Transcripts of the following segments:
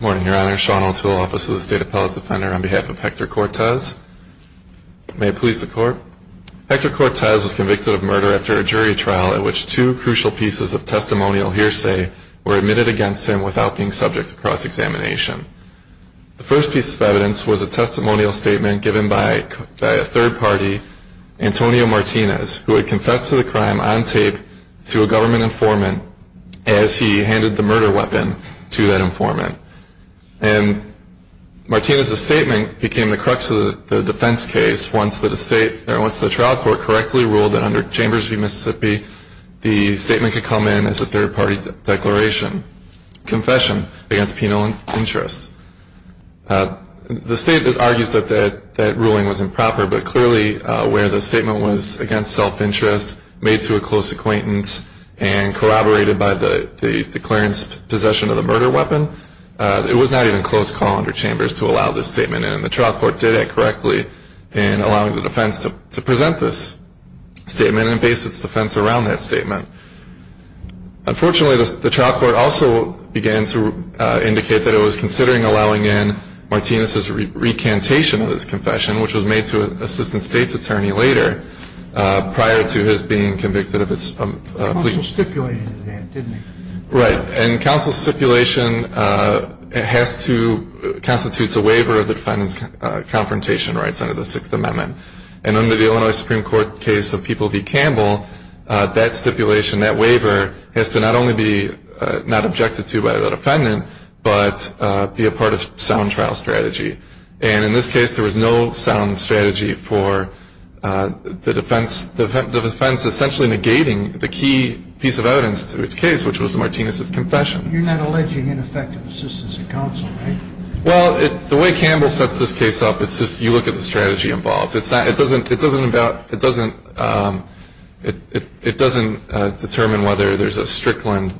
Morning, Your Honor. Sean Oates with the Office of the State Appellate Defender on behalf of Hector Cortez. May it please the Court? Hector Cortez was convicted of murder after a jury trial in which two crucial pieces of testimonial hearsay were admitted against him without being subject to cross-examination. The first piece of evidence was a testimonial statement given by a third party, Antonio Martinez, who had confessed to the crime on tape to a government informant as he handed the murder weapon to that informant. And Martinez's statement became the crux of the defense case once the trial court correctly ruled that under Chambers v. Mississippi, the statement could come in as a third party declaration, confession against penal interest. The state argues that that ruling was improper, but clearly where the statement was against self-interest, made to a close acquaintance, and corroborated by the declaration's possession of the murder weapon, it was not even close call under Chambers to allow this statement in. And the trial court did that correctly in allowing the defense to present this statement and base its defense around that statement. Unfortunately, the trial court also began to indicate that it was considering allowing in Martinez's recantation of his confession, which was made to an assistant state's attorney later, prior to his being convicted of his plea. The counsel stipulated that, didn't it? Right. And counsel stipulation constitutes a waiver of the defendant's confrontation rights under the Sixth Amendment. And under the Illinois Supreme Court case of People v. Campbell, that stipulation, that waiver, has to not only be not objected to by the defendant, but be a part of sound trial strategy. And in this case, there was no sound strategy for the defense essentially negating the key piece of evidence to its case, which was Martinez's confession. You're not alleging ineffective assistance of counsel, right? Well, the way Campbell sets this case up, it's just you look at the strategy involved. It doesn't determine whether there's a Strickland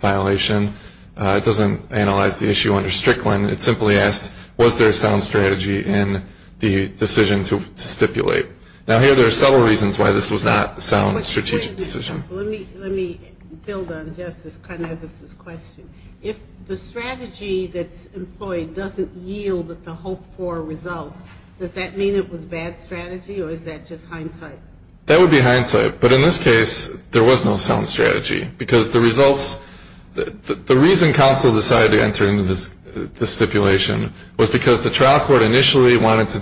violation. It doesn't analyze the issue under Strickland. It simply asks, was there a sound strategy in the decision to stipulate? Now, here there are several reasons why this was not a sound strategic decision. Let me build on Justice Karnez's question. If the strategy that's employed doesn't yield the hoped-for results, does that mean it was bad strategy, or is that just hindsight? That would be hindsight. But in this case, there was no sound strategy, because the results – the reason counsel decided to enter into this stipulation was because the trial terms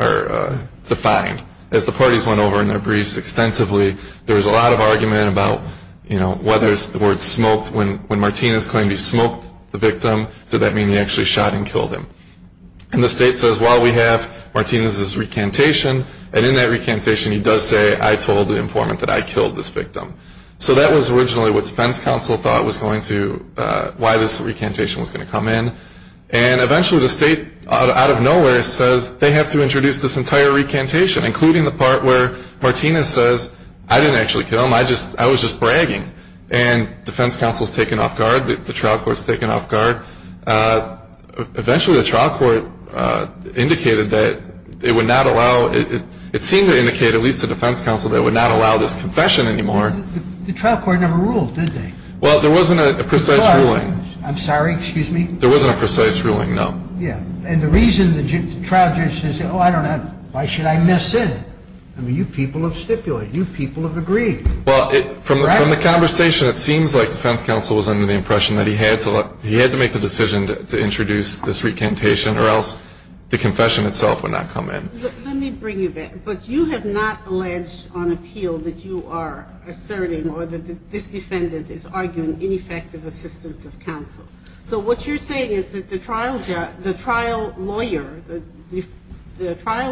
are defined. As the parties went over in their briefs extensively, there was a lot of argument about whether the word smoked – when Martinez claimed he smoked the victim, did that mean he actually shot and killed him? And the state says, well, we have Martinez's recantation, and in that recantation, he does say, I told the informant that I killed this victim. So that was originally what defense counsel thought was going to – why this recantation was going to come in. And eventually the state, out of nowhere, says they have to introduce this entire recantation, including the part where Martinez says, I didn't actually kill him, I was just bragging. And defense counsel is taken off guard, the trial court is taken off guard. Eventually the trial court indicated that it would not allow – it seemed to indicate, at least to defense counsel, that it would not allow this confession anymore. The trial court never ruled, did they? Well, there wasn't a precise ruling. I'm sorry, excuse me? There wasn't a precise ruling, no. Yeah. And the reason the trial judge says, oh, I don't know, why should I miss it? I mean, you people have stipulated. You people have agreed. Well, from the conversation, it seems like defense counsel was under the impression that he had to make the decision to introduce this recantation, or else the confession itself would not come in. Let me bring you back. But you have not alleged on appeal that you are asserting or that this defendant is arguing ineffective assistance of counsel. So what you're saying is that the trial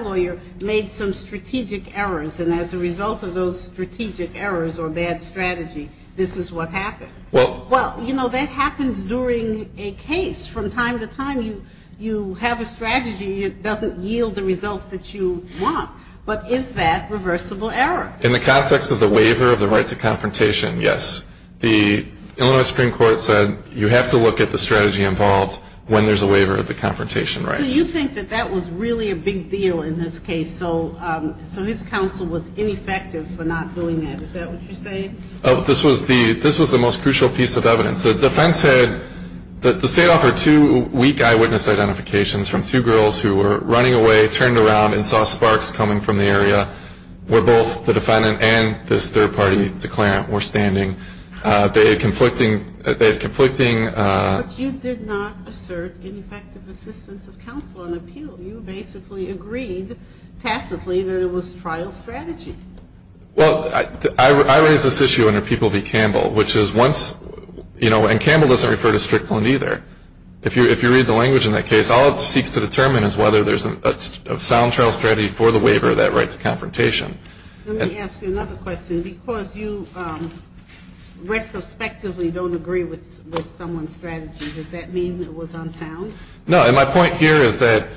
lawyer made some strategic errors, and as a result of those strategic errors or bad strategy, this is what happened. Well, you know, that happens during a case from time to time. You have a strategy. It doesn't yield the results that you want. But is that reversible error? In the context of the waiver of the right to confrontation, yes. The Illinois Supreme Court said you have to look at the strategy involved when there's a waiver of the confrontation rights. So you think that that was really a big deal in this case, so his counsel was ineffective for not doing that. Is that what you're saying? This was the most crucial piece of evidence. The defense said that the state offered two weak eyewitness identifications from two girls who were running away, turned around, and saw sparks coming from the area where both the defendant and this third-party declarant were standing. They had conflicting ‑‑ But you did not assert ineffective assistance of counsel on appeal. You basically agreed tacitly that it was trial strategy. Well, I raise this issue under People v. Campbell, which is once, you know, and Campbell doesn't refer to Strickland either. If you read the language in that case, all it seeks to determine is whether there's a sound trial strategy for the waiver of that right to confrontation. Let me ask you another question. Because you retrospectively don't agree with someone's strategy, does that mean it was unsound? No, and my point here is that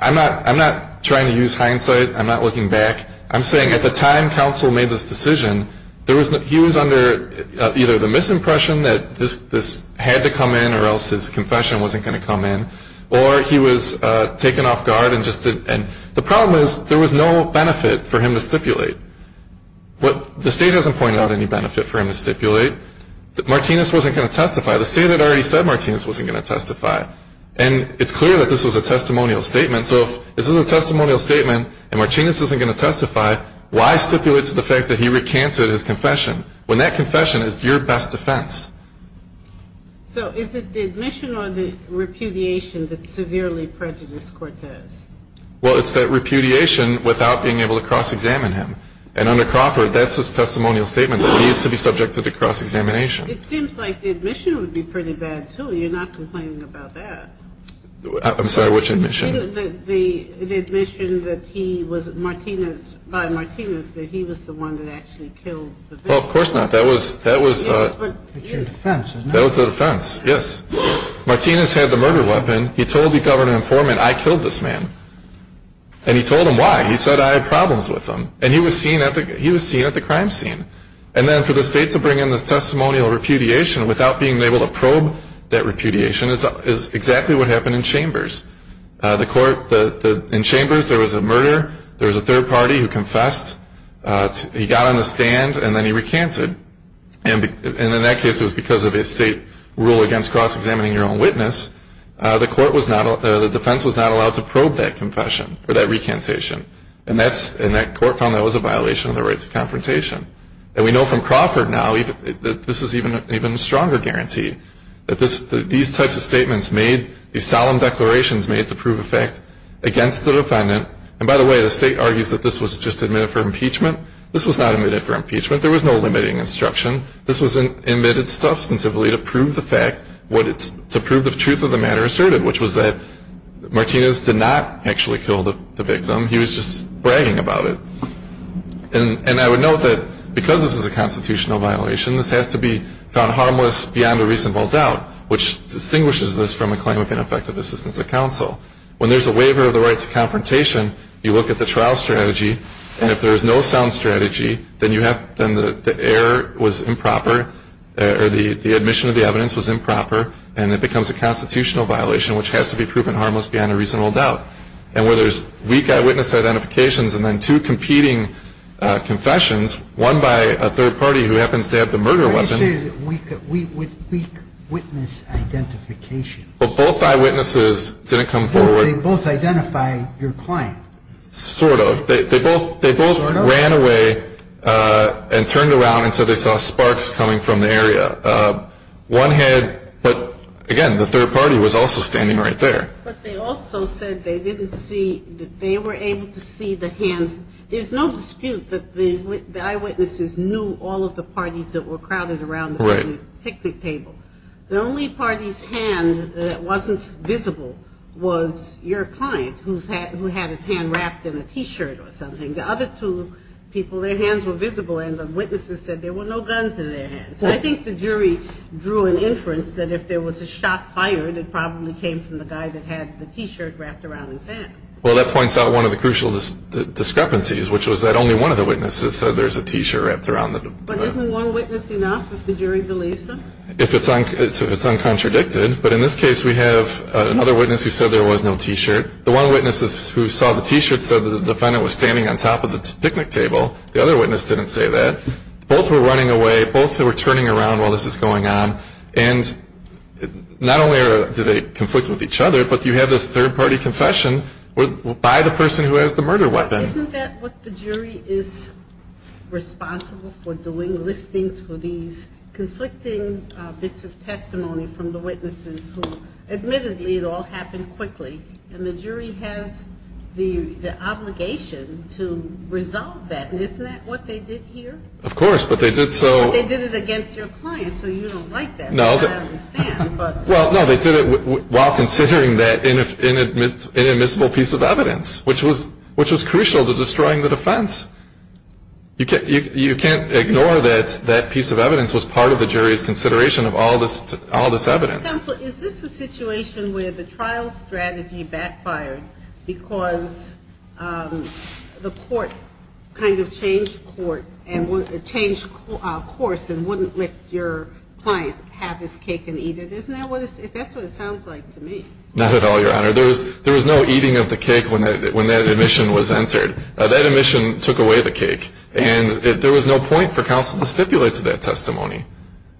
I'm not trying to use hindsight. I'm not looking back. I'm saying at the time counsel made this decision, he was under either the misimpression that this had to come in or else his confession wasn't going to come in, or he was taken off guard. And the problem is there was no benefit for him to stipulate. The state hasn't pointed out any benefit for him to stipulate. Martinez wasn't going to testify. The state had already said Martinez wasn't going to testify. And it's clear that this was a testimonial statement. So if this is a testimonial statement and Martinez isn't going to testify, why stipulate to the fact that he recanted his confession when that confession is your best defense? So is it the admission or the repudiation that severely prejudiced Cortez? Well, it's that repudiation without being able to cross-examine him. And under Crawford, that's his testimonial statement. He needs to be subjected to cross-examination. It seems like the admission would be pretty bad, too. You're not complaining about that. I'm sorry, which admission? The admission that he was Martinez, by Martinez, that he was the one that actually killed the victim. Well, of course not. That was the defense, yes. Martinez had the murder weapon. He told the governor and foreman, I killed this man. And he told them why. He said, I had problems with him. And he was seen at the crime scene. And then for the state to bring in this testimonial repudiation without being able to probe that repudiation is exactly what happened in Chambers. In Chambers, there was a murder. There was a third party who confessed. He got on the stand and then he recanted. And in that case, it was because of a state rule against cross-examining your own witness, the defense was not allowed to probe that confession or that recantation. And that court found that was a violation of the rights of confrontation. And we know from Crawford now that this is an even stronger guarantee, that these types of statements made, these solemn declarations made to prove a fact against the defendant. And by the way, the state argues that this was just admitted for impeachment. This was not admitted for impeachment. There was no limiting instruction. This was admitted substantively to prove the fact, to prove the truth of the matter asserted, which was that Martinez did not actually kill the victim. He was just bragging about it. And I would note that because this is a constitutional violation, this has to be found harmless beyond a reasonable doubt, which distinguishes this from a claim of ineffective assistance of counsel. When there's a waiver of the rights of confrontation, you look at the trial strategy, and if there is no sound strategy, then you have, then the error was improper, or the admission of the evidence was improper, and it becomes a constitutional violation, which has to be proven harmless beyond a reasonable doubt. And where there's weak eyewitness identifications and then two competing confessions, one by a third party who happens to have the murder weapon. Weak witness identification. Well, both eyewitnesses didn't come forward. Well, they both identify your client. Sort of. They both ran away and turned around and said they saw sparks coming from the area. One had, but, again, the third party was also standing right there. But they also said they didn't see, that they were able to see the hands. There's no dispute that the eyewitnesses knew all of the parties that were crowded around the picnic table. The only party's hand that wasn't visible was your client, who had his hand wrapped in a T-shirt or something. The other two people, their hands were visible, and the witnesses said there were no guns in their hands. So I think the jury drew an inference that if there was a shot fired, it probably came from the guy that had the T-shirt wrapped around his hand. Well, that points out one of the crucial discrepancies, which was that only one of the witnesses said there's a T-shirt wrapped around the. But isn't one witness enough, if the jury believes them? If it's uncontradicted. But in this case, we have another witness who said there was no T-shirt. The one witness who saw the T-shirt said the defendant was standing on top of the picnic table. The other witness didn't say that. Both were running away. Both were turning around while this was going on. And not only do they conflict with each other, but you have this third party confession by the person who has the murder weapon. Isn't that what the jury is responsible for doing, listening to these conflicting bits of testimony from the witnesses who, admittedly, it all happened quickly. And the jury has the obligation to resolve that. Isn't that what they did here? Of course. But they did it against your client, so you don't like that. I understand. Well, no, they did it while considering that inadmissible piece of evidence, which was crucial to destroying the defense. You can't ignore that that piece of evidence was part of the jury's consideration of all this evidence. Is this a situation where the trial strategy backfired because the court kind of changed course and wouldn't let your client have his cake and eat it? Isn't that what this is? That's what it sounds like to me. Not at all, Your Honor. There was no eating of the cake when that admission was entered. That admission took away the cake, and there was no point for counsel to stipulate to that testimony.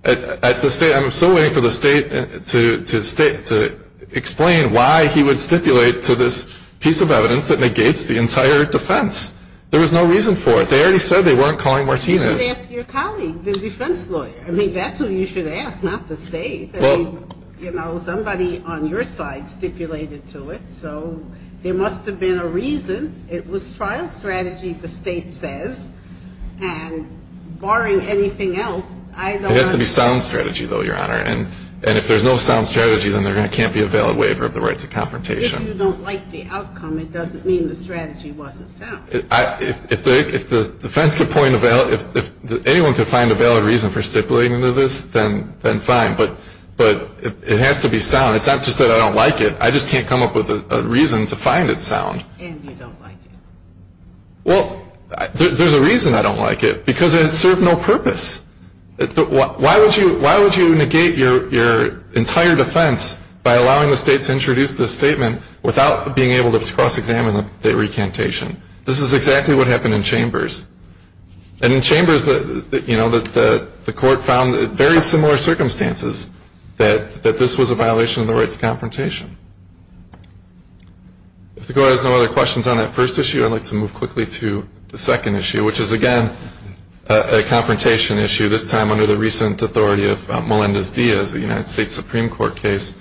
I'm still waiting for the state to explain why he would stipulate to this piece of evidence that negates the entire defense. There was no reason for it. They already said they weren't calling Martinez. You should ask your colleague, the defense lawyer. I mean, that's who you should ask, not the state. Somebody on your side stipulated to it, so there must have been a reason. It was trial strategy, the state says. And barring anything else, I don't understand. It has to be sound strategy, though, Your Honor. And if there's no sound strategy, then there can't be a valid waiver of the rights of confrontation. If you don't like the outcome, it doesn't mean the strategy wasn't sound. If anyone could find a valid reason for stipulating to this, then fine. But it has to be sound. It's not just that I don't like it. I just can't come up with a reason to find it sound. And you don't like it. Well, there's a reason I don't like it, because it served no purpose. Why would you negate your entire defense by allowing the state to introduce this statement without being able to cross-examine the recantation? This is exactly what happened in Chambers. And in Chambers, you know, the court found in very similar circumstances that this was a violation of the rights of confrontation. If the Court has no other questions on that first issue, I'd like to move quickly to the second issue, which is, again, a confrontation issue, this time under the recent authority of Melendez-Diaz, a United States Supreme Court case,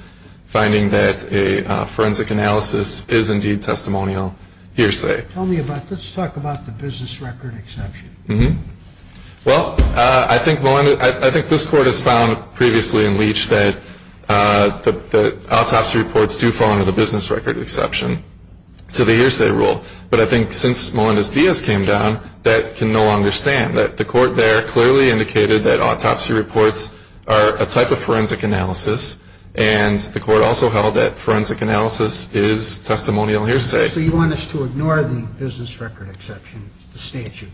finding that a forensic analysis is indeed testimonial hearsay. Tell me about it. Let's talk about the business record exception. Well, I think this Court has found previously in Leach that autopsy reports do fall under the business record exception to the hearsay rule. But I think since Melendez-Diaz came down, that can no longer stand. The Court there clearly indicated that autopsy reports are a type of forensic analysis, and the Court also held that forensic analysis is testimonial hearsay. So you want us to ignore the business record exception, the statute?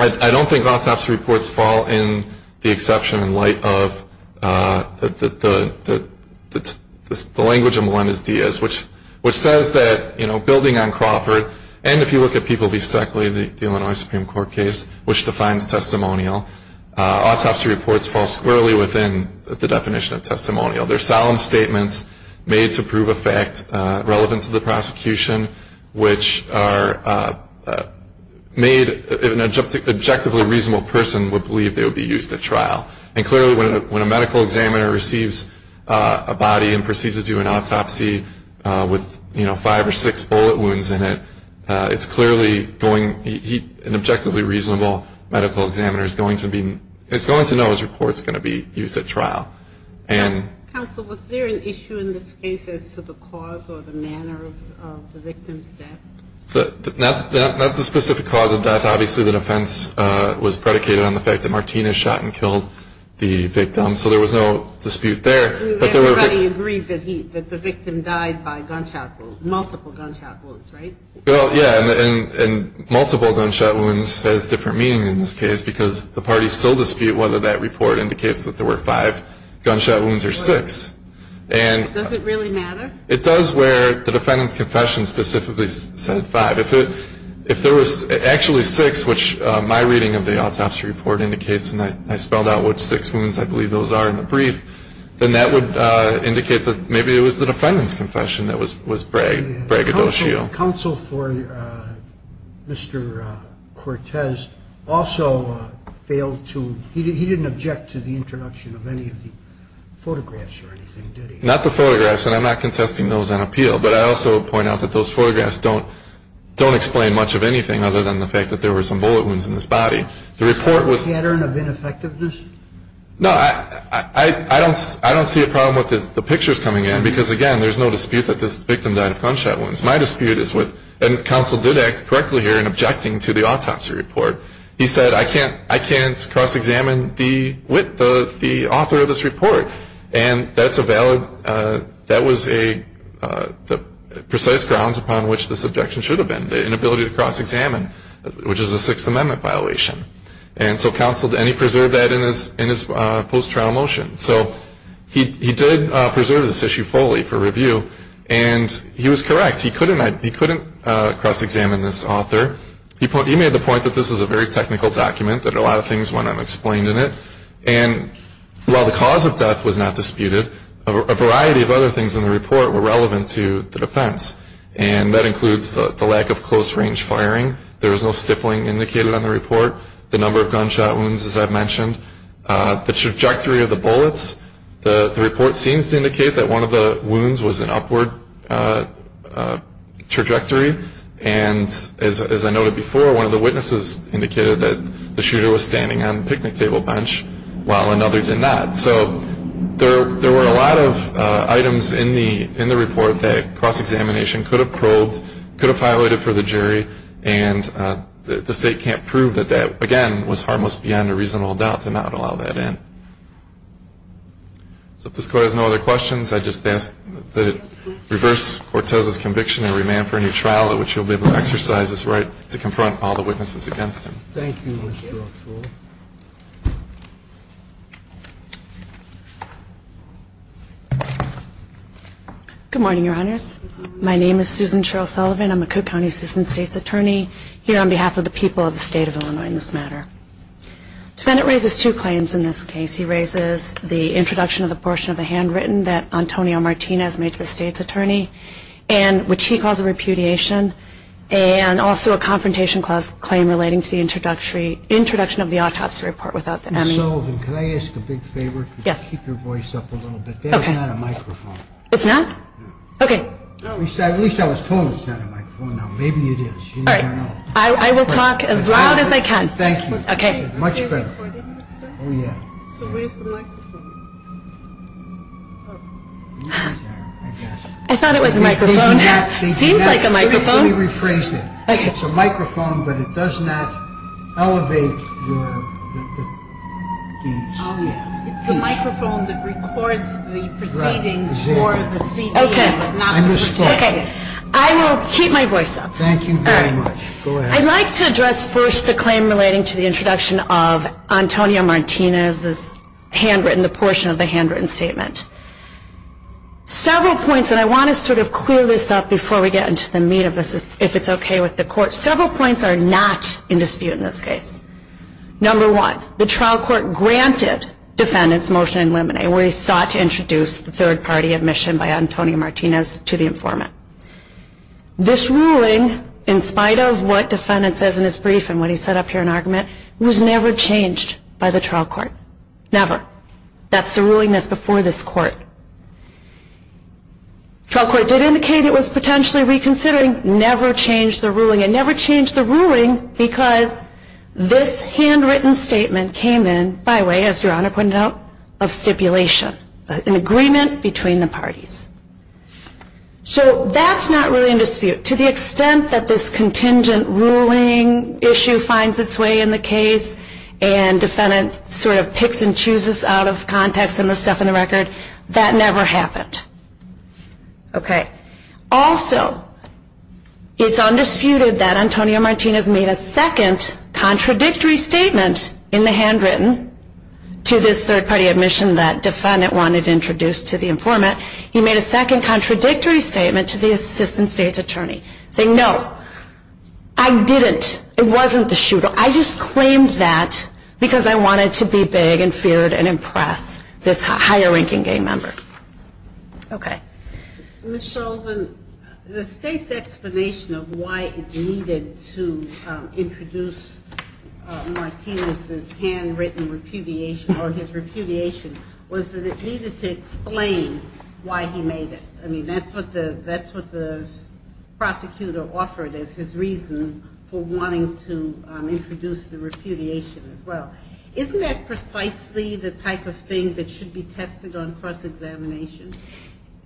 I don't think autopsy reports fall in the exception in light of the language of Melendez-Diaz, which says that, you know, building on Crawford, and if you look at people v. Stoeckle in the Illinois Supreme Court case, which defines testimonial, autopsy reports fall squarely within the definition of testimonial. They're solemn statements made to prove a fact relevant to the prosecution, which are made if an objectively reasonable person would believe they would be used at trial. And clearly when a medical examiner receives a body and proceeds to do an autopsy with, you know, five or six bullet wounds in it, it's clearly going to be an objectively reasonable medical examiner. It's going to know his report is going to be used at trial. Counsel, was there an issue in this case as to the cause or the manner of the victim's death? Not the specific cause of death. Obviously the defense was predicated on the fact that Martinez shot and killed the victim, so there was no dispute there. Everybody agreed that the victim died by multiple gunshot wounds, right? Well, yeah, and multiple gunshot wounds has different meaning in this case because the parties still dispute whether that report indicates that there were five gunshot wounds or six. Does it really matter? It does where the defendant's confession specifically said five. If there was actually six, which my reading of the autopsy report indicates, and I spelled out what six wounds I believe those are in the brief, then that would indicate that maybe it was the defendant's confession that was braggadocio. Counsel for Mr. Cortez also failed to, he didn't object to the introduction of any of the photographs or anything, did he? Not the photographs, and I'm not contesting those on appeal, but I also point out that those photographs don't explain much of anything other than the fact that there were some bullet wounds in his body. Was there a pattern of ineffectiveness? No, I don't see a problem with the pictures coming in because, again, there's no dispute that this victim died of gunshot wounds. My dispute is with, and counsel did act correctly here in objecting to the autopsy report. He said, I can't cross-examine the author of this report, and that was a precise grounds upon which this objection should have been, the inability to cross-examine, which is a Sixth Amendment violation. And so counsel, and he preserved that in his post-trial motion. So he did preserve this issue fully for review, and he was correct. He couldn't cross-examine this author. He made the point that this is a very technical document, that a lot of things went unexplained in it. And while the cause of death was not disputed, a variety of other things in the report were relevant to the defense, and that includes the lack of close-range firing. There was no stippling indicated on the report. The number of gunshot wounds, as I've mentioned. The trajectory of the bullets. The report seems to indicate that one of the wounds was an upward trajectory. And as I noted before, one of the witnesses indicated that the shooter was standing on the picnic table bench, while another did not. So there were a lot of items in the report that cross-examination could have probed, could have violated for the jury, and the state can't prove that that, again, was harmless beyond a reasonable doubt to not allow that in. So if this Court has no other questions, I just ask that it reverse Cortez's conviction and remand for a new trial, at which you'll be able to exercise this right to confront all the witnesses against him. Thank you, Mr. O'Toole. Good morning, Your Honors. My name is Susan Cheryl Sullivan. I'm a Cook County Assistant State's Attorney, here on behalf of the people of the State of Illinois in this matter. The defendant raises two claims in this case. He raises the introduction of the portion of the handwritten that Antonio Martinez made to the State's Attorney, which he calls a repudiation, and also a Confrontation Clause claim relating to the introduction of the autopsy report. Ms. Sullivan, can I ask a big favor? Yes. Could you keep your voice up a little bit? There's not a microphone. It's not? No. Okay. At least I was told it's not a microphone. Oh, no. Maybe it is. You never know. All right. I will talk as loud as I can. Thank you. Okay. Much better. So where's the microphone? I thought it was a microphone. It seems like a microphone. Everybody rephrased it. It's a microphone, but it does not elevate your keys. It's the microphone that records the proceedings for the CDM, but not to protect it. Okay. I missed that. Okay. I will keep my voice up. Thank you very much. Go ahead. I'd like to address first the claim relating to the introduction of Antonio Martinez's handwritten, the portion of the handwritten statement. Several points, and I want to sort of clear this up before we get into the meat of this, if it's okay with the Court. Several points are not in dispute in this case. Number one, the trial court granted defendants motion in limine, where he sought to introduce the third-party admission by Antonio Martinez to the informant. This ruling, in spite of what defendant says in his brief and what he said up here in argument, was never changed by the trial court. Never. That's the ruling that's before this court. Trial court did indicate it was potentially reconsidering, never changed the ruling, and never changed the ruling because this handwritten statement came in by way, as Your Honor pointed out, of stipulation, an agreement between the parties. So that's not really in dispute. To the extent that this contingent ruling issue finds its way in the case and defendant sort of picks and chooses out of context and the stuff in the record, that never happened. Okay. Also, it's undisputed that Antonio Martinez made a second contradictory statement in the handwritten to this third-party admission that defendant wanted introduced to the informant. He made a second contradictory statement to the assistant state attorney saying, no, I didn't. It wasn't the shooter. I just claimed that because I wanted to be big and feared and impress this higher-ranking gay member. Okay. Ms. Shulman, the state's explanation of why it needed to introduce Martinez's handwritten repudiation was that it needed to explain why he made it. I mean, that's what the prosecutor offered as his reason for wanting to introduce the repudiation as well. Isn't that precisely the type of thing that should be tested on cross-examination?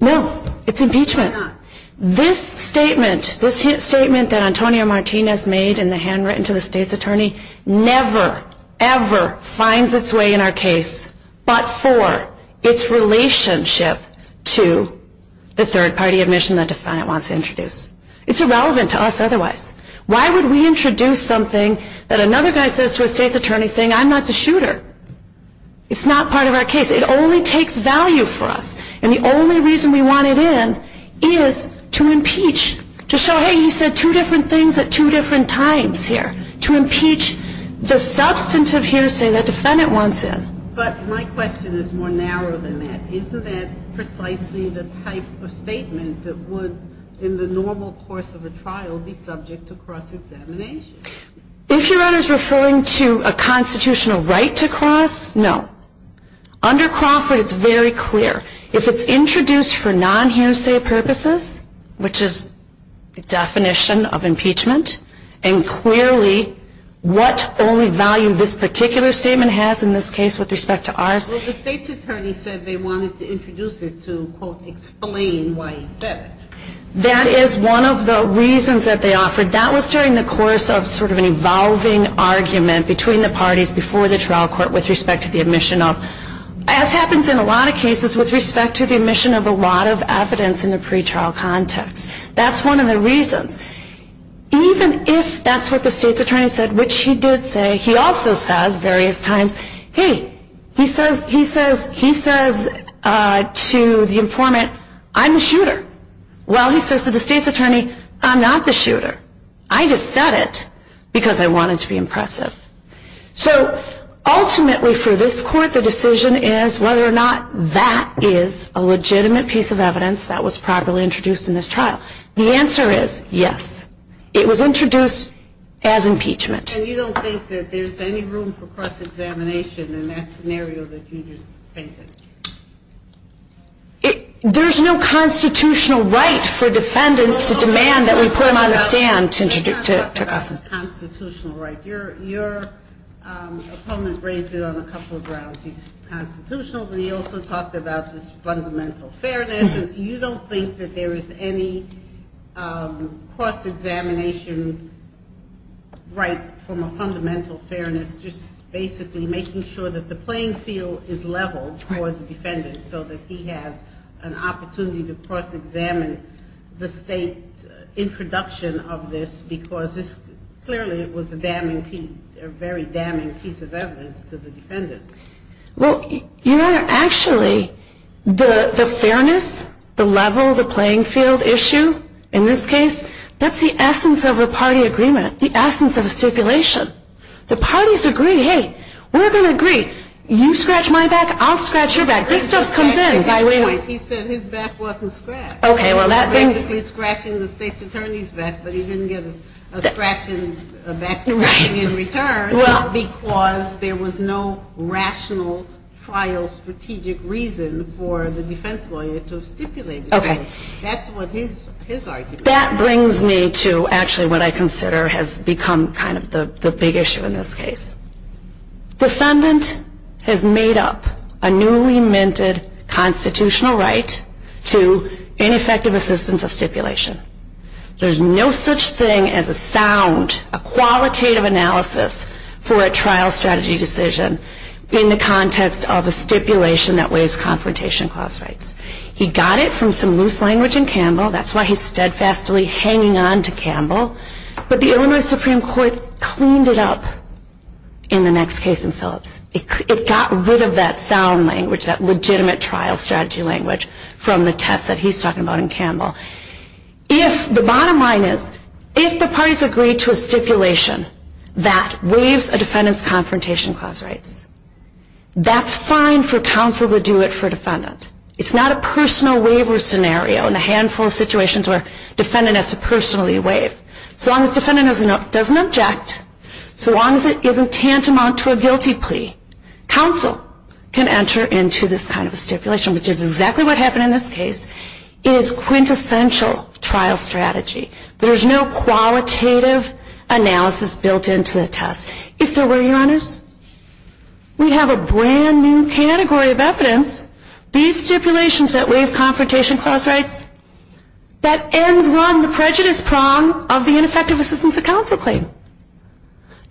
No. It's impeachment. Why not? This statement, this statement that Antonio Martinez made in the handwritten to the state's attorney, never, ever finds its way in our case but for its relationship to the third-party admission that defendant wants to introduce. It's irrelevant to us otherwise. Why would we introduce something that another guy says to a state's attorney saying, I'm not the shooter? It's not part of our case. It only takes value for us. And the only reason we want it in is to impeach, to show, hey, he said two different things at two different times here, to impeach the substantive hearsay that defendant wants in. But my question is more narrow than that. Isn't that precisely the type of statement that would, in the normal course of a trial, be subject to cross-examination? If you're referring to a constitutional right to cross, no. Under Crawford, it's very clear. If it's introduced for non-hearsay purposes, which is the definition of impeachment, and clearly what only value this particular statement has in this case with respect to ours. Well, the state's attorney said they wanted to introduce it to, quote, explain why he said it. That is one of the reasons that they offered. That was during the course of sort of an evolving argument between the parties before the trial court with respect to the admission of, as happens in a lot of cases with respect to the admission of a lot of evidence in a pretrial context. That's one of the reasons. Even if that's what the state's attorney said, which he did say, he also says various times, hey, he says to the informant, I'm the shooter. Well, he says to the state's attorney, I'm not the shooter. I just said it because I wanted to be impressive. So ultimately, for this court, the decision is whether or not that is a legitimate piece of evidence that was properly introduced in this trial. The answer is yes. It was introduced as impeachment. And you don't think that there's any room for cross-examination in that scenario that you just painted? There's no constitutional right for defendants to demand that we put them on the stand. Your opponent raised it on a couple of grounds. He's constitutional, but he also talked about this fundamental fairness. You don't think that there is any cross-examination right from a fundamental fairness, just basically making sure that the playing field is level for the defendant so that he has an opportunity to cross-examine the state's introduction of this because this clearly was a very damning piece of evidence to the defendant. Well, Your Honor, actually, the fairness, the level, the playing field issue in this case, that's the essence of a party agreement, the essence of a stipulation. The parties agree, hey, we're going to agree. You scratch my back, I'll scratch your back. This just comes in by way of – He said his back wasn't scratched. He was basically scratching the state's attorney's back, but he didn't give a scratching back in return because there was no rational trial strategic reason for the defense lawyer to have stipulated that. That's what his argument is. That brings me to actually what I consider has become kind of the big issue in this case. Defendant has made up a newly-minted constitutional right to ineffective assistance of stipulation. There's no such thing as a sound, a qualitative analysis for a trial strategy decision in the context of a stipulation that waives confrontation clause rights. He got it from some loose language in Campbell. That's why he's steadfastly hanging on to Campbell. But the Illinois Supreme Court cleaned it up in the next case in Phillips. It got rid of that sound language, that legitimate trial strategy language, from the test that he's talking about in Campbell. The bottom line is, if the parties agree to a stipulation that waives a defendant's confrontation clause rights, it's not a personal waiver scenario in the handful of situations where a defendant has to personally waive. So long as the defendant doesn't object, so long as it isn't tantamount to a guilty plea, counsel can enter into this kind of a stipulation, which is exactly what happened in this case. It is quintessential trial strategy. There's no qualitative analysis built into the test. If there were, Your Honors, we'd have a brand new category of evidence. These stipulations that waive confrontation clause rights, that end run the prejudice prong of the ineffective assistance of counsel claim.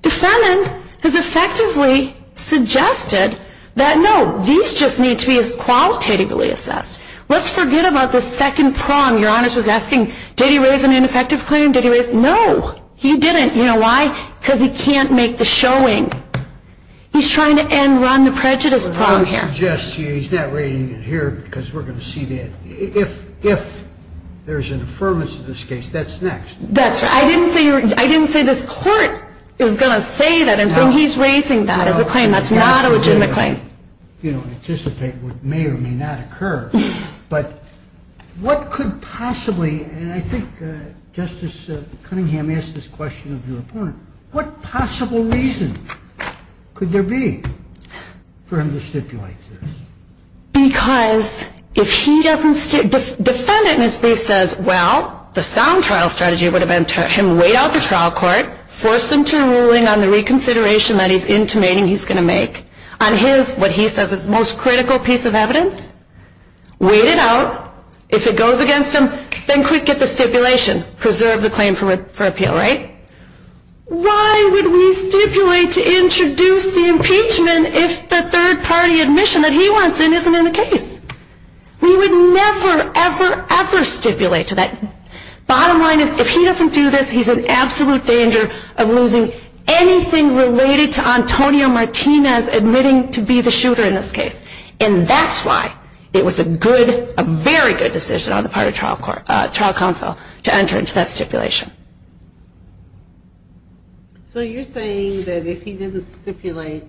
Defendant has effectively suggested that, no, these just need to be as qualitatively assessed. Let's forget about the second prong. Your Honors was asking, did he raise an ineffective claim? Did he raise? No, he didn't. You know why? Because he can't make the showing. He's trying to end run the prejudice prong here. But I would suggest to you he's not raising it here because we're going to see that. If there's an affirmance in this case, that's next. That's right. I didn't say this court is going to say that. I'm saying he's raising that as a claim. That's not a legitimate claim. You don't anticipate what may or may not occur. But what could possibly, and I think Justice Cunningham asked this question of your opponent, what possible reason could there be for him to stipulate this? Because if he doesn't, defendant in his brief says, well, the sound trial strategy would have been to have him wait out the trial court, force him to a ruling on the reconsideration that he's intimating he's going to make. On his, what he says is most critical piece of evidence, wait it out. If it goes against him, then quick, get the stipulation. Preserve the claim for appeal, right? Why would we stipulate to introduce the impeachment if the third-party admission that he wants in isn't in the case? We would never, ever, ever stipulate to that. Bottom line is if he doesn't do this, he's in absolute danger of losing anything related to Antonio Martinez admitting to be the shooter in this case. And that's why it was a good, a very good decision on the part of trial counsel to enter into that stipulation. So you're saying that if he didn't stipulate,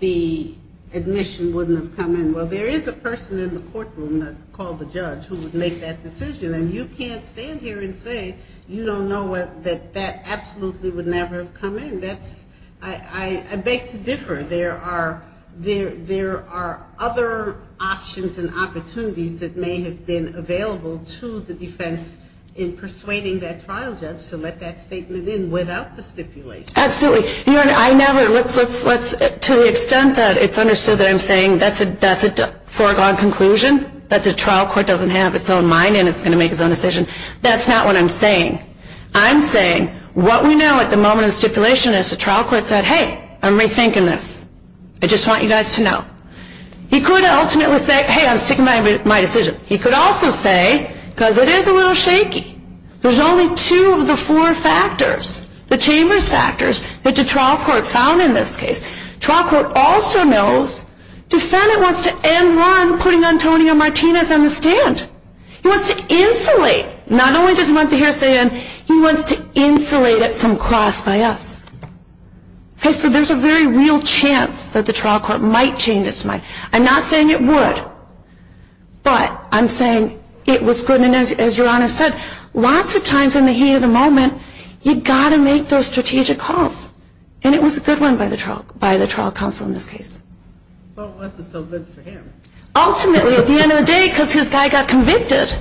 the admission wouldn't have come in. Well, there is a person in the courtroom called the judge who would make that decision. And you can't stand here and say you don't know that that absolutely would never have come in. That's, I beg to differ. There are other options and opportunities that may have been available to the defense in persuading that trial judge to let that statement in without the stipulation. Absolutely. To the extent that it's understood that I'm saying that's a foregone conclusion, that the trial court doesn't have its own mind and it's going to make its own decision, that's not what I'm saying. I'm saying what we know at the moment in stipulation is the trial court said, hey, I'm rethinking this. I just want you guys to know. He could ultimately say, hey, I'm sticking by my decision. He could also say, because it is a little shaky, there's only two of the four factors. The chambers factors that the trial court found in this case. Trial court also knows defendant wants to end run putting Antonio Martinez on the stand. He wants to insulate, not only does he want the hearsay in, he wants to insulate it from cross by us. So there's a very real chance that the trial court might change its mind. I'm not saying it would, but I'm saying it was good. And as your Honor said, lots of times in the heat of the moment, you've got to make those strategic calls. And it was a good one by the trial counsel in this case. Well, unless it's so good for him. Ultimately, at the end of the day, because his guy got convicted.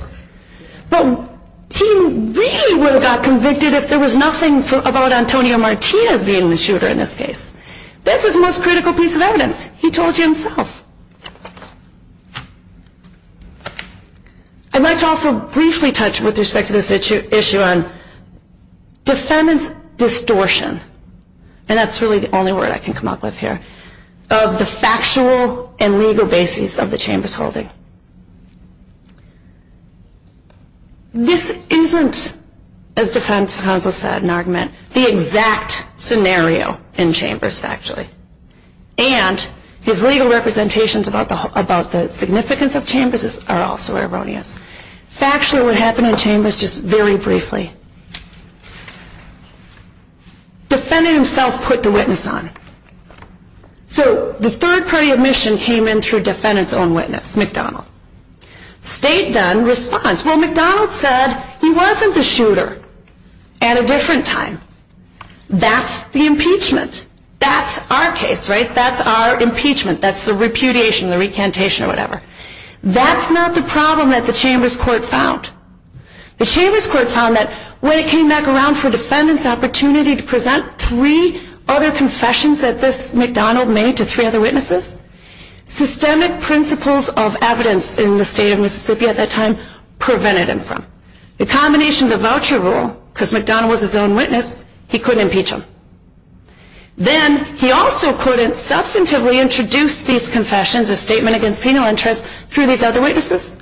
But he really would have got convicted if there was nothing about Antonio Martinez being the shooter in this case. That's his most critical piece of evidence. He told you himself. I'd like to also briefly touch with respect to this issue on defendant's distortion. And that's really the only word I can come up with here. Of the factual and legal basis of the chambers holding. This isn't, as defense counsel said in argument, the exact scenario in chambers, actually. And his legal representations about the significance of chambers are also erroneous. Factually, what happened in chambers, just very briefly. Defendant himself put the witness on. So the third party admission came in through defendant's own witness, McDonnell. State then responds, well, McDonnell said he wasn't the shooter at a different time. That's the impeachment. That's our case, right? That's our impeachment. That's the repudiation, the recantation or whatever. That's not the problem that the chambers court found. The chambers court found that when it came back around for defendant's opportunity to present three other confessions that this McDonnell made to three other witnesses, systemic principles of evidence in the state of Mississippi at that time prevented him from. The combination of the voucher rule, because McDonnell was his own witness, he couldn't impeach him. Then he also couldn't substantively introduce these confessions, a statement against penal interest, through these other witnesses.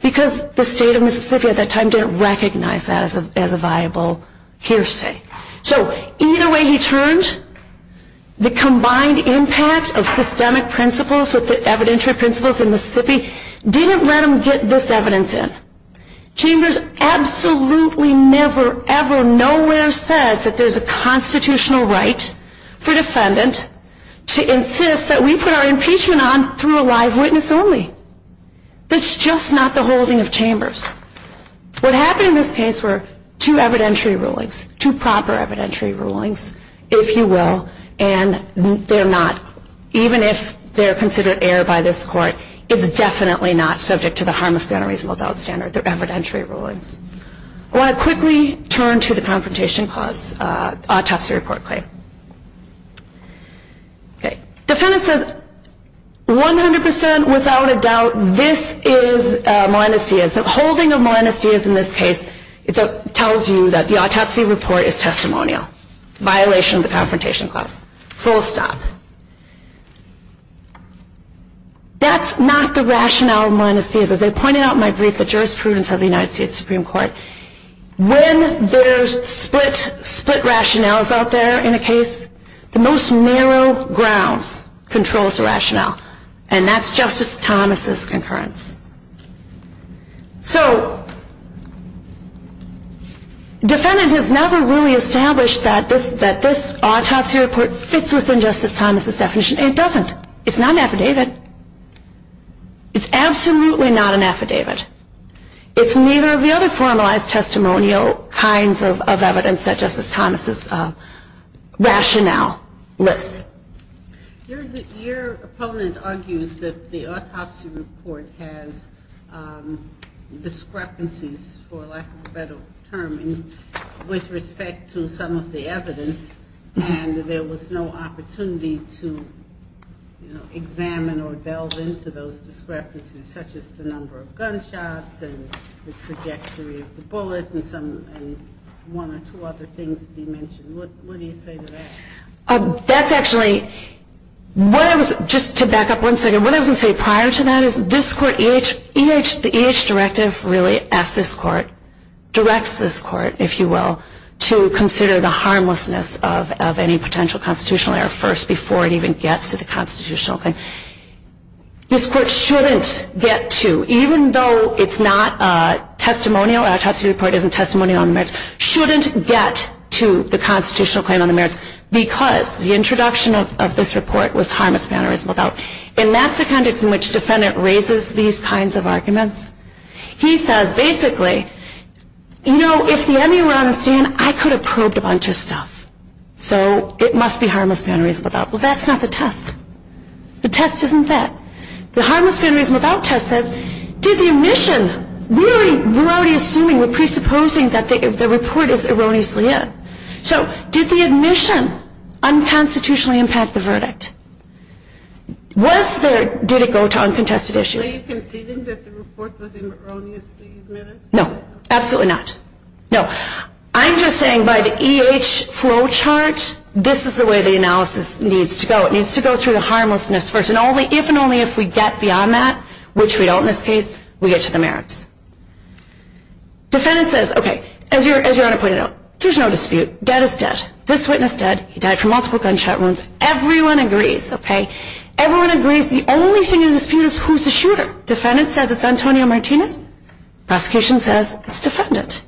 Because the state of Mississippi at that time didn't recognize that as a viable hearsay. So either way he turned, the combined impact of systemic principles with the evidentiary principles in Mississippi didn't let him get this evidence in. Chambers absolutely never, ever, nowhere says that there's a constitutional right for defendant to insist that we put our impeachment on through a live witness only. That's just not the holding of chambers. What happened in this case were two evidentiary rulings, two proper evidentiary rulings, if you will. And they're not, even if they're considered error by this court, it's definitely not subject to the harmless gun or reasonable doubt standard, the evidentiary rulings. I want to quickly turn to the confrontation clause autopsy report claim. Defendant says 100% without a doubt this is Molinas Diaz. Full stop. That's not the rationale of Molinas Diaz. As I pointed out in my brief, the jurisprudence of the United States Supreme Court, when there's split rationales out there in a case, the most narrow grounds control the rationale. And that's Justice Thomas' concurrence. So defendant has never really established that this autopsy report fits within Justice Thomas' definition. It doesn't. It's not an affidavit. It's absolutely not an affidavit. It's neither of the other formalized testimonial kinds of evidence that Justice Thomas' rationale lists. Your opponent argues that the autopsy report has discrepancies, for lack of a better term, with respect to some of the evidence. And there was no opportunity to examine or delve into those discrepancies, such as the number of gunshots and the trajectory of the bullet and one or two other things that he mentioned. What do you say to that? That's actually, just to back up one second, what I was going to say prior to that is this court, the EH directive really asks this court, directs this court, if you will, to consider the harmlessness of any potential constitutional error first before it even gets to the constitutional thing. This court shouldn't get to, even though it's not testimonial, autopsy report isn't testimonial on the merits, shouldn't get to the constitutional claim on the merits because the introduction of this report was harmless, bannerism, without. And that's the context in which the defendant raises these kinds of arguments. He says, basically, you know, if the ME were on the scene, I could have probed a bunch of stuff. So it must be harmless, bannerism, without. Well, that's not the test. The test isn't that. The harmless, bannerism, without test says, did the admission, we're already assuming, we're presupposing that the report is erroneously in. So did the admission unconstitutionally impact the verdict? Was there, did it go to uncontested issues? Are you conceding that the report was erroneously admitted? No, absolutely not. No. I'm just saying by the EH flowchart, this is the way the analysis needs to go. It needs to go through the harmlessness first. And only if and only if we get beyond that, which we don't in this case, we get to the merits. Defendant says, okay, as your Honor pointed out, there's no dispute. Dead is dead. This witness dead. He died from multiple gunshot wounds. Everyone agrees, okay? Everyone agrees the only thing in the dispute is who's the shooter. Defendant says it's Antonio Martinez. Prosecution says it's defendant.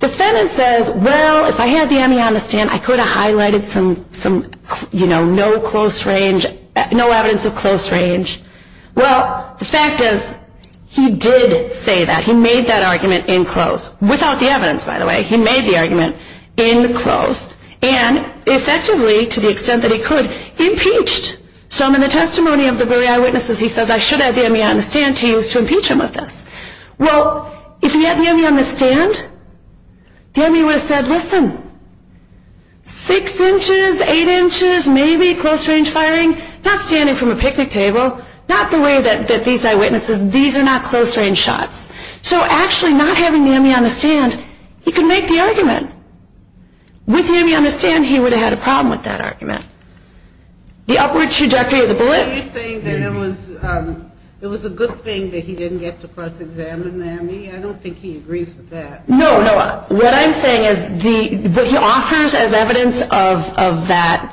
Defendant says, well, if I had the MEI on the stand, I could have highlighted some, you know, no close range, no evidence of close range. Well, the fact is, he did say that. He made that argument in close, without the evidence, by the way. He made the argument in close. And effectively, to the extent that he could, he impeached. So in the testimony of the very eyewitnesses, he says, I should have had the MEI on the stand to use to impeach him of this. Well, if he had the MEI on the stand, the MEI would have said, listen, six inches, eight inches, maybe close range firing, not standing from a picnic table, not the way that these eyewitnesses, these are not close range shots. So actually not having the MEI on the stand, he could make the argument. With the MEI on the stand, he would have had a problem with that argument. The upward trajectory of the bullet. Are you saying that it was a good thing that he didn't get to cross-examine the MEI? I don't think he agrees with that. No, no. What I'm saying is, what he offers as evidence of that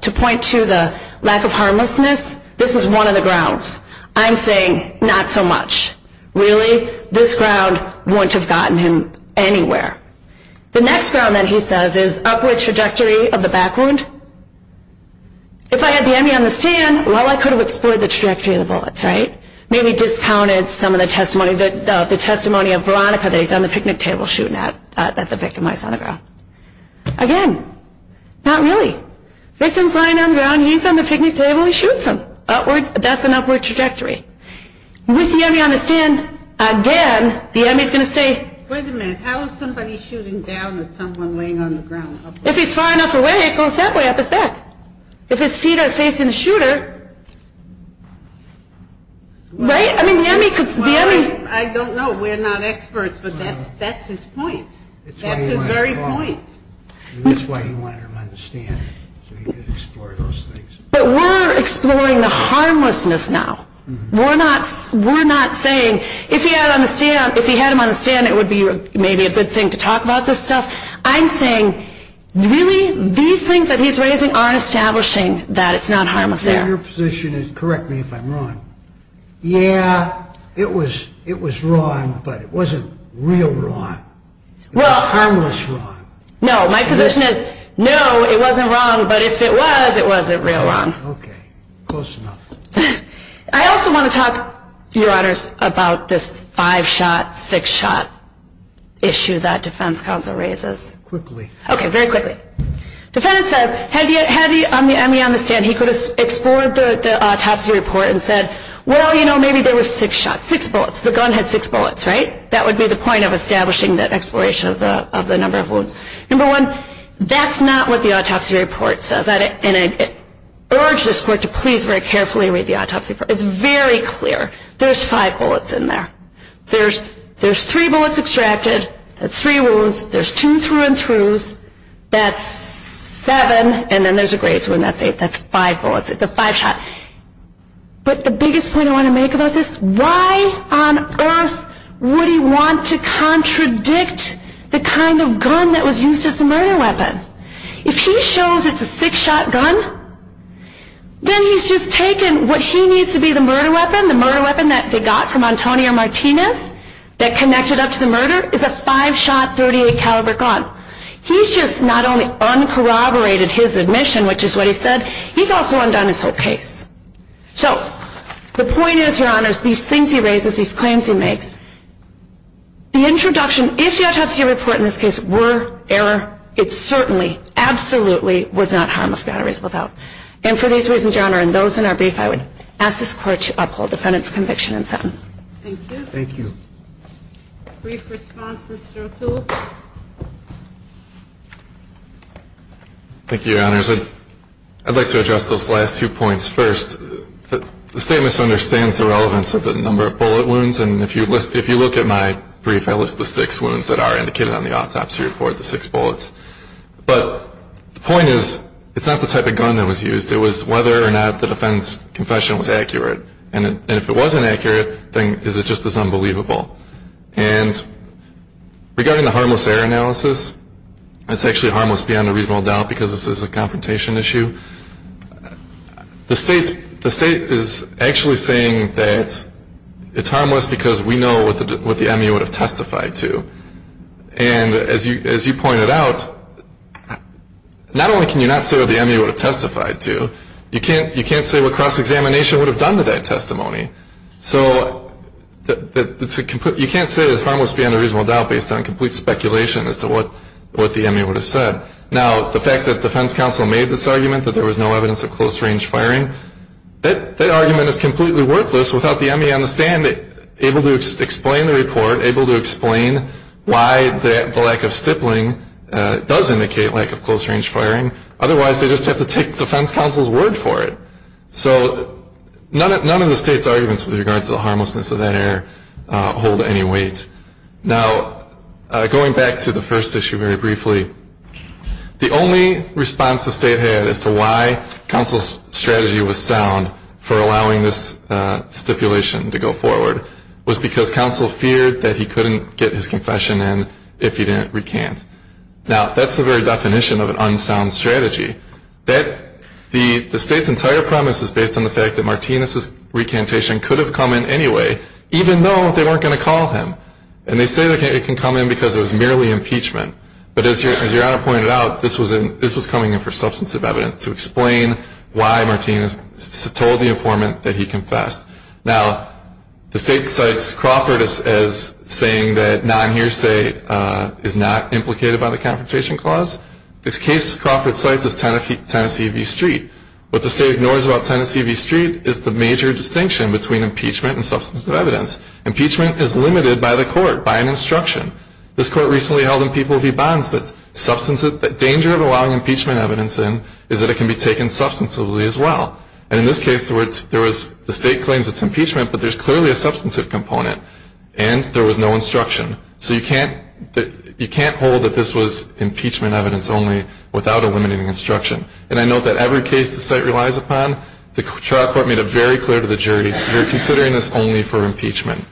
to point to the lack of harmlessness, this is one of the grounds. I'm saying not so much. Really, this ground wouldn't have gotten him anywhere. The next ground that he says is upward trajectory of the back wound. If I had the MEI on the stand, well, I could have explored the trajectory of the bullets, right? Maybe discounted some of the testimony of Veronica that he's on the picnic table shooting at the victim while he's on the ground. Again, not really. Victim's lying on the ground, he's on the picnic table, he shoots him. That's an upward trajectory. With the MEI on the stand, again, the MEI is going to say, wait a minute, how is somebody shooting down at someone laying on the ground? If he's far enough away, it goes that way, up his back. If his feet are facing the shooter, right? I don't know, we're not experts, but that's his point. That's his very point. That's why he wanted him on the stand, so he could explore those things. But we're exploring the harmlessness now. We're not saying, if he had him on the stand, it would be maybe a good thing to talk about this stuff. I'm saying, really, these things that he's raising are establishing that it's not harmless there. Your position is, correct me if I'm wrong, yeah, it was wrong, but it wasn't real wrong. It was harmless wrong. No, my position is, no, it wasn't wrong, but if it was, it wasn't real wrong. Okay, close enough. I also want to talk, Your Honors, about this five-shot, six-shot issue that defense counsel raises. Quickly. Okay, very quickly. Defendant says, had he had me on the stand, he could have explored the autopsy report and said, well, you know, maybe there were six shots, six bullets, the gun had six bullets, right? That would be the point of establishing the exploration of the number of wounds. Number one, that's not what the autopsy report says. And I urge this court to please very carefully read the autopsy report. It's very clear. There's five bullets in there. There's three bullets extracted. That's three wounds. There's two through-and-throughs. That's seven, and then there's a grazed wound. That's eight. That's five bullets. It's a five-shot. But the biggest point I want to make about this, why on earth would he want to contradict the kind of gun that was used as a murder weapon? If he shows it's a six-shot gun, then he's just taken what he needs to be the murder weapon, the murder weapon that they got from Antonio Martinez that connected up to the murder, is a five-shot .38 caliber gun. He's just not only uncorroborated his admission, which is what he said, he's also undone his whole case. So the point is, Your Honors, these things he raises, these claims he makes, the introduction, if the autopsy report in this case were error, it certainly, absolutely was not harmless batteries without. And for these reasons, Your Honor, and those in our brief, I would ask this Court to uphold the defendant's conviction and sentence. Thank you. Thank you. Brief response, Mr. O'Toole. Thank you, Your Honors. I'd like to address those last two points. First, the state misunderstands the relevance of the number of bullet wounds, and if you look at my brief, I list the six wounds that are indicated on the autopsy report, the six bullets. But the point is, it's not the type of gun that was used. It was whether or not the defendant's confession was accurate. And if it wasn't accurate, then is it just as unbelievable? And regarding the harmless error analysis, it's actually harmless beyond a reasonable doubt because this is a confrontation issue. The state is actually saying that it's harmless because we know what the ME would have testified to. And as you pointed out, not only can you not say what the ME would have testified to, you can't say what cross-examination would have done to that testimony. So you can't say that it's harmless beyond a reasonable doubt based on complete speculation as to what the ME would have said. Now, the fact that defense counsel made this argument, that there was no evidence of close-range firing, that argument is completely worthless without the ME on the stand able to explain the report, able to explain why the lack of stippling does indicate lack of close-range firing. Otherwise, they just have to take defense counsel's word for it. So none of the state's arguments with regard to the harmlessness of that error hold any weight. Now, going back to the first issue very briefly, the only response the state had as to why counsel's strategy was sound for allowing this stipulation to go forward was because counsel feared that he couldn't get his confession in if he didn't recant. Now, that's the very definition of an unsound strategy. The state's entire premise is based on the fact that Martinez's recantation could have come in anyway, even though they weren't going to call him. And they say it can come in because it was merely impeachment. But as Your Honor pointed out, this was coming in for substantive evidence to explain why Martinez told the informant that he confessed. Now, the state cites Crawford as saying that non-hearsay is not implicated by the Confrontation Clause. The case Crawford cites is Tennessee v. Street. What the state ignores about Tennessee v. Street is the major distinction between impeachment and substantive evidence. Impeachment is limited by the court, by an instruction. This court recently held in People v. Bonds that the danger of allowing impeachment evidence in is that it can be taken substantively as well. And in this case, the state claims it's impeachment, but there's clearly a substantive component, and there was no instruction. So you can't hold that this was impeachment evidence only without a limiting instruction. And I note that every case the site relies upon, the trial court made it very clear to the jury, we're considering this only for impeachment.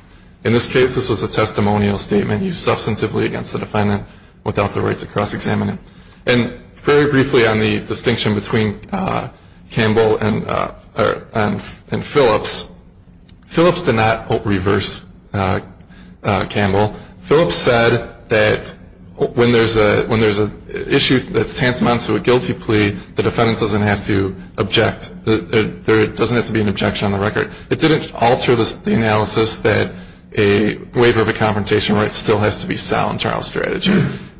In this case, this was a testimonial statement used substantively against the defendant without the right to cross-examine it. And very briefly on the distinction between Campbell and Phillips, Phillips did not reverse Campbell. Phillips said that when there's an issue that's tantamount to a guilty plea, the defendant doesn't have to object. There doesn't have to be an objection on the record. It didn't alter the analysis that a waiver of a confrontation right still has to be sound trial strategy.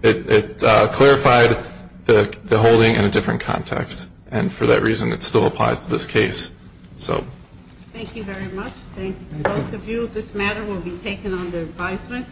It clarified the holding in a different context, and for that reason it still applies to this case. Thank you very much. Thank both of you. This matter will be taken under advisement.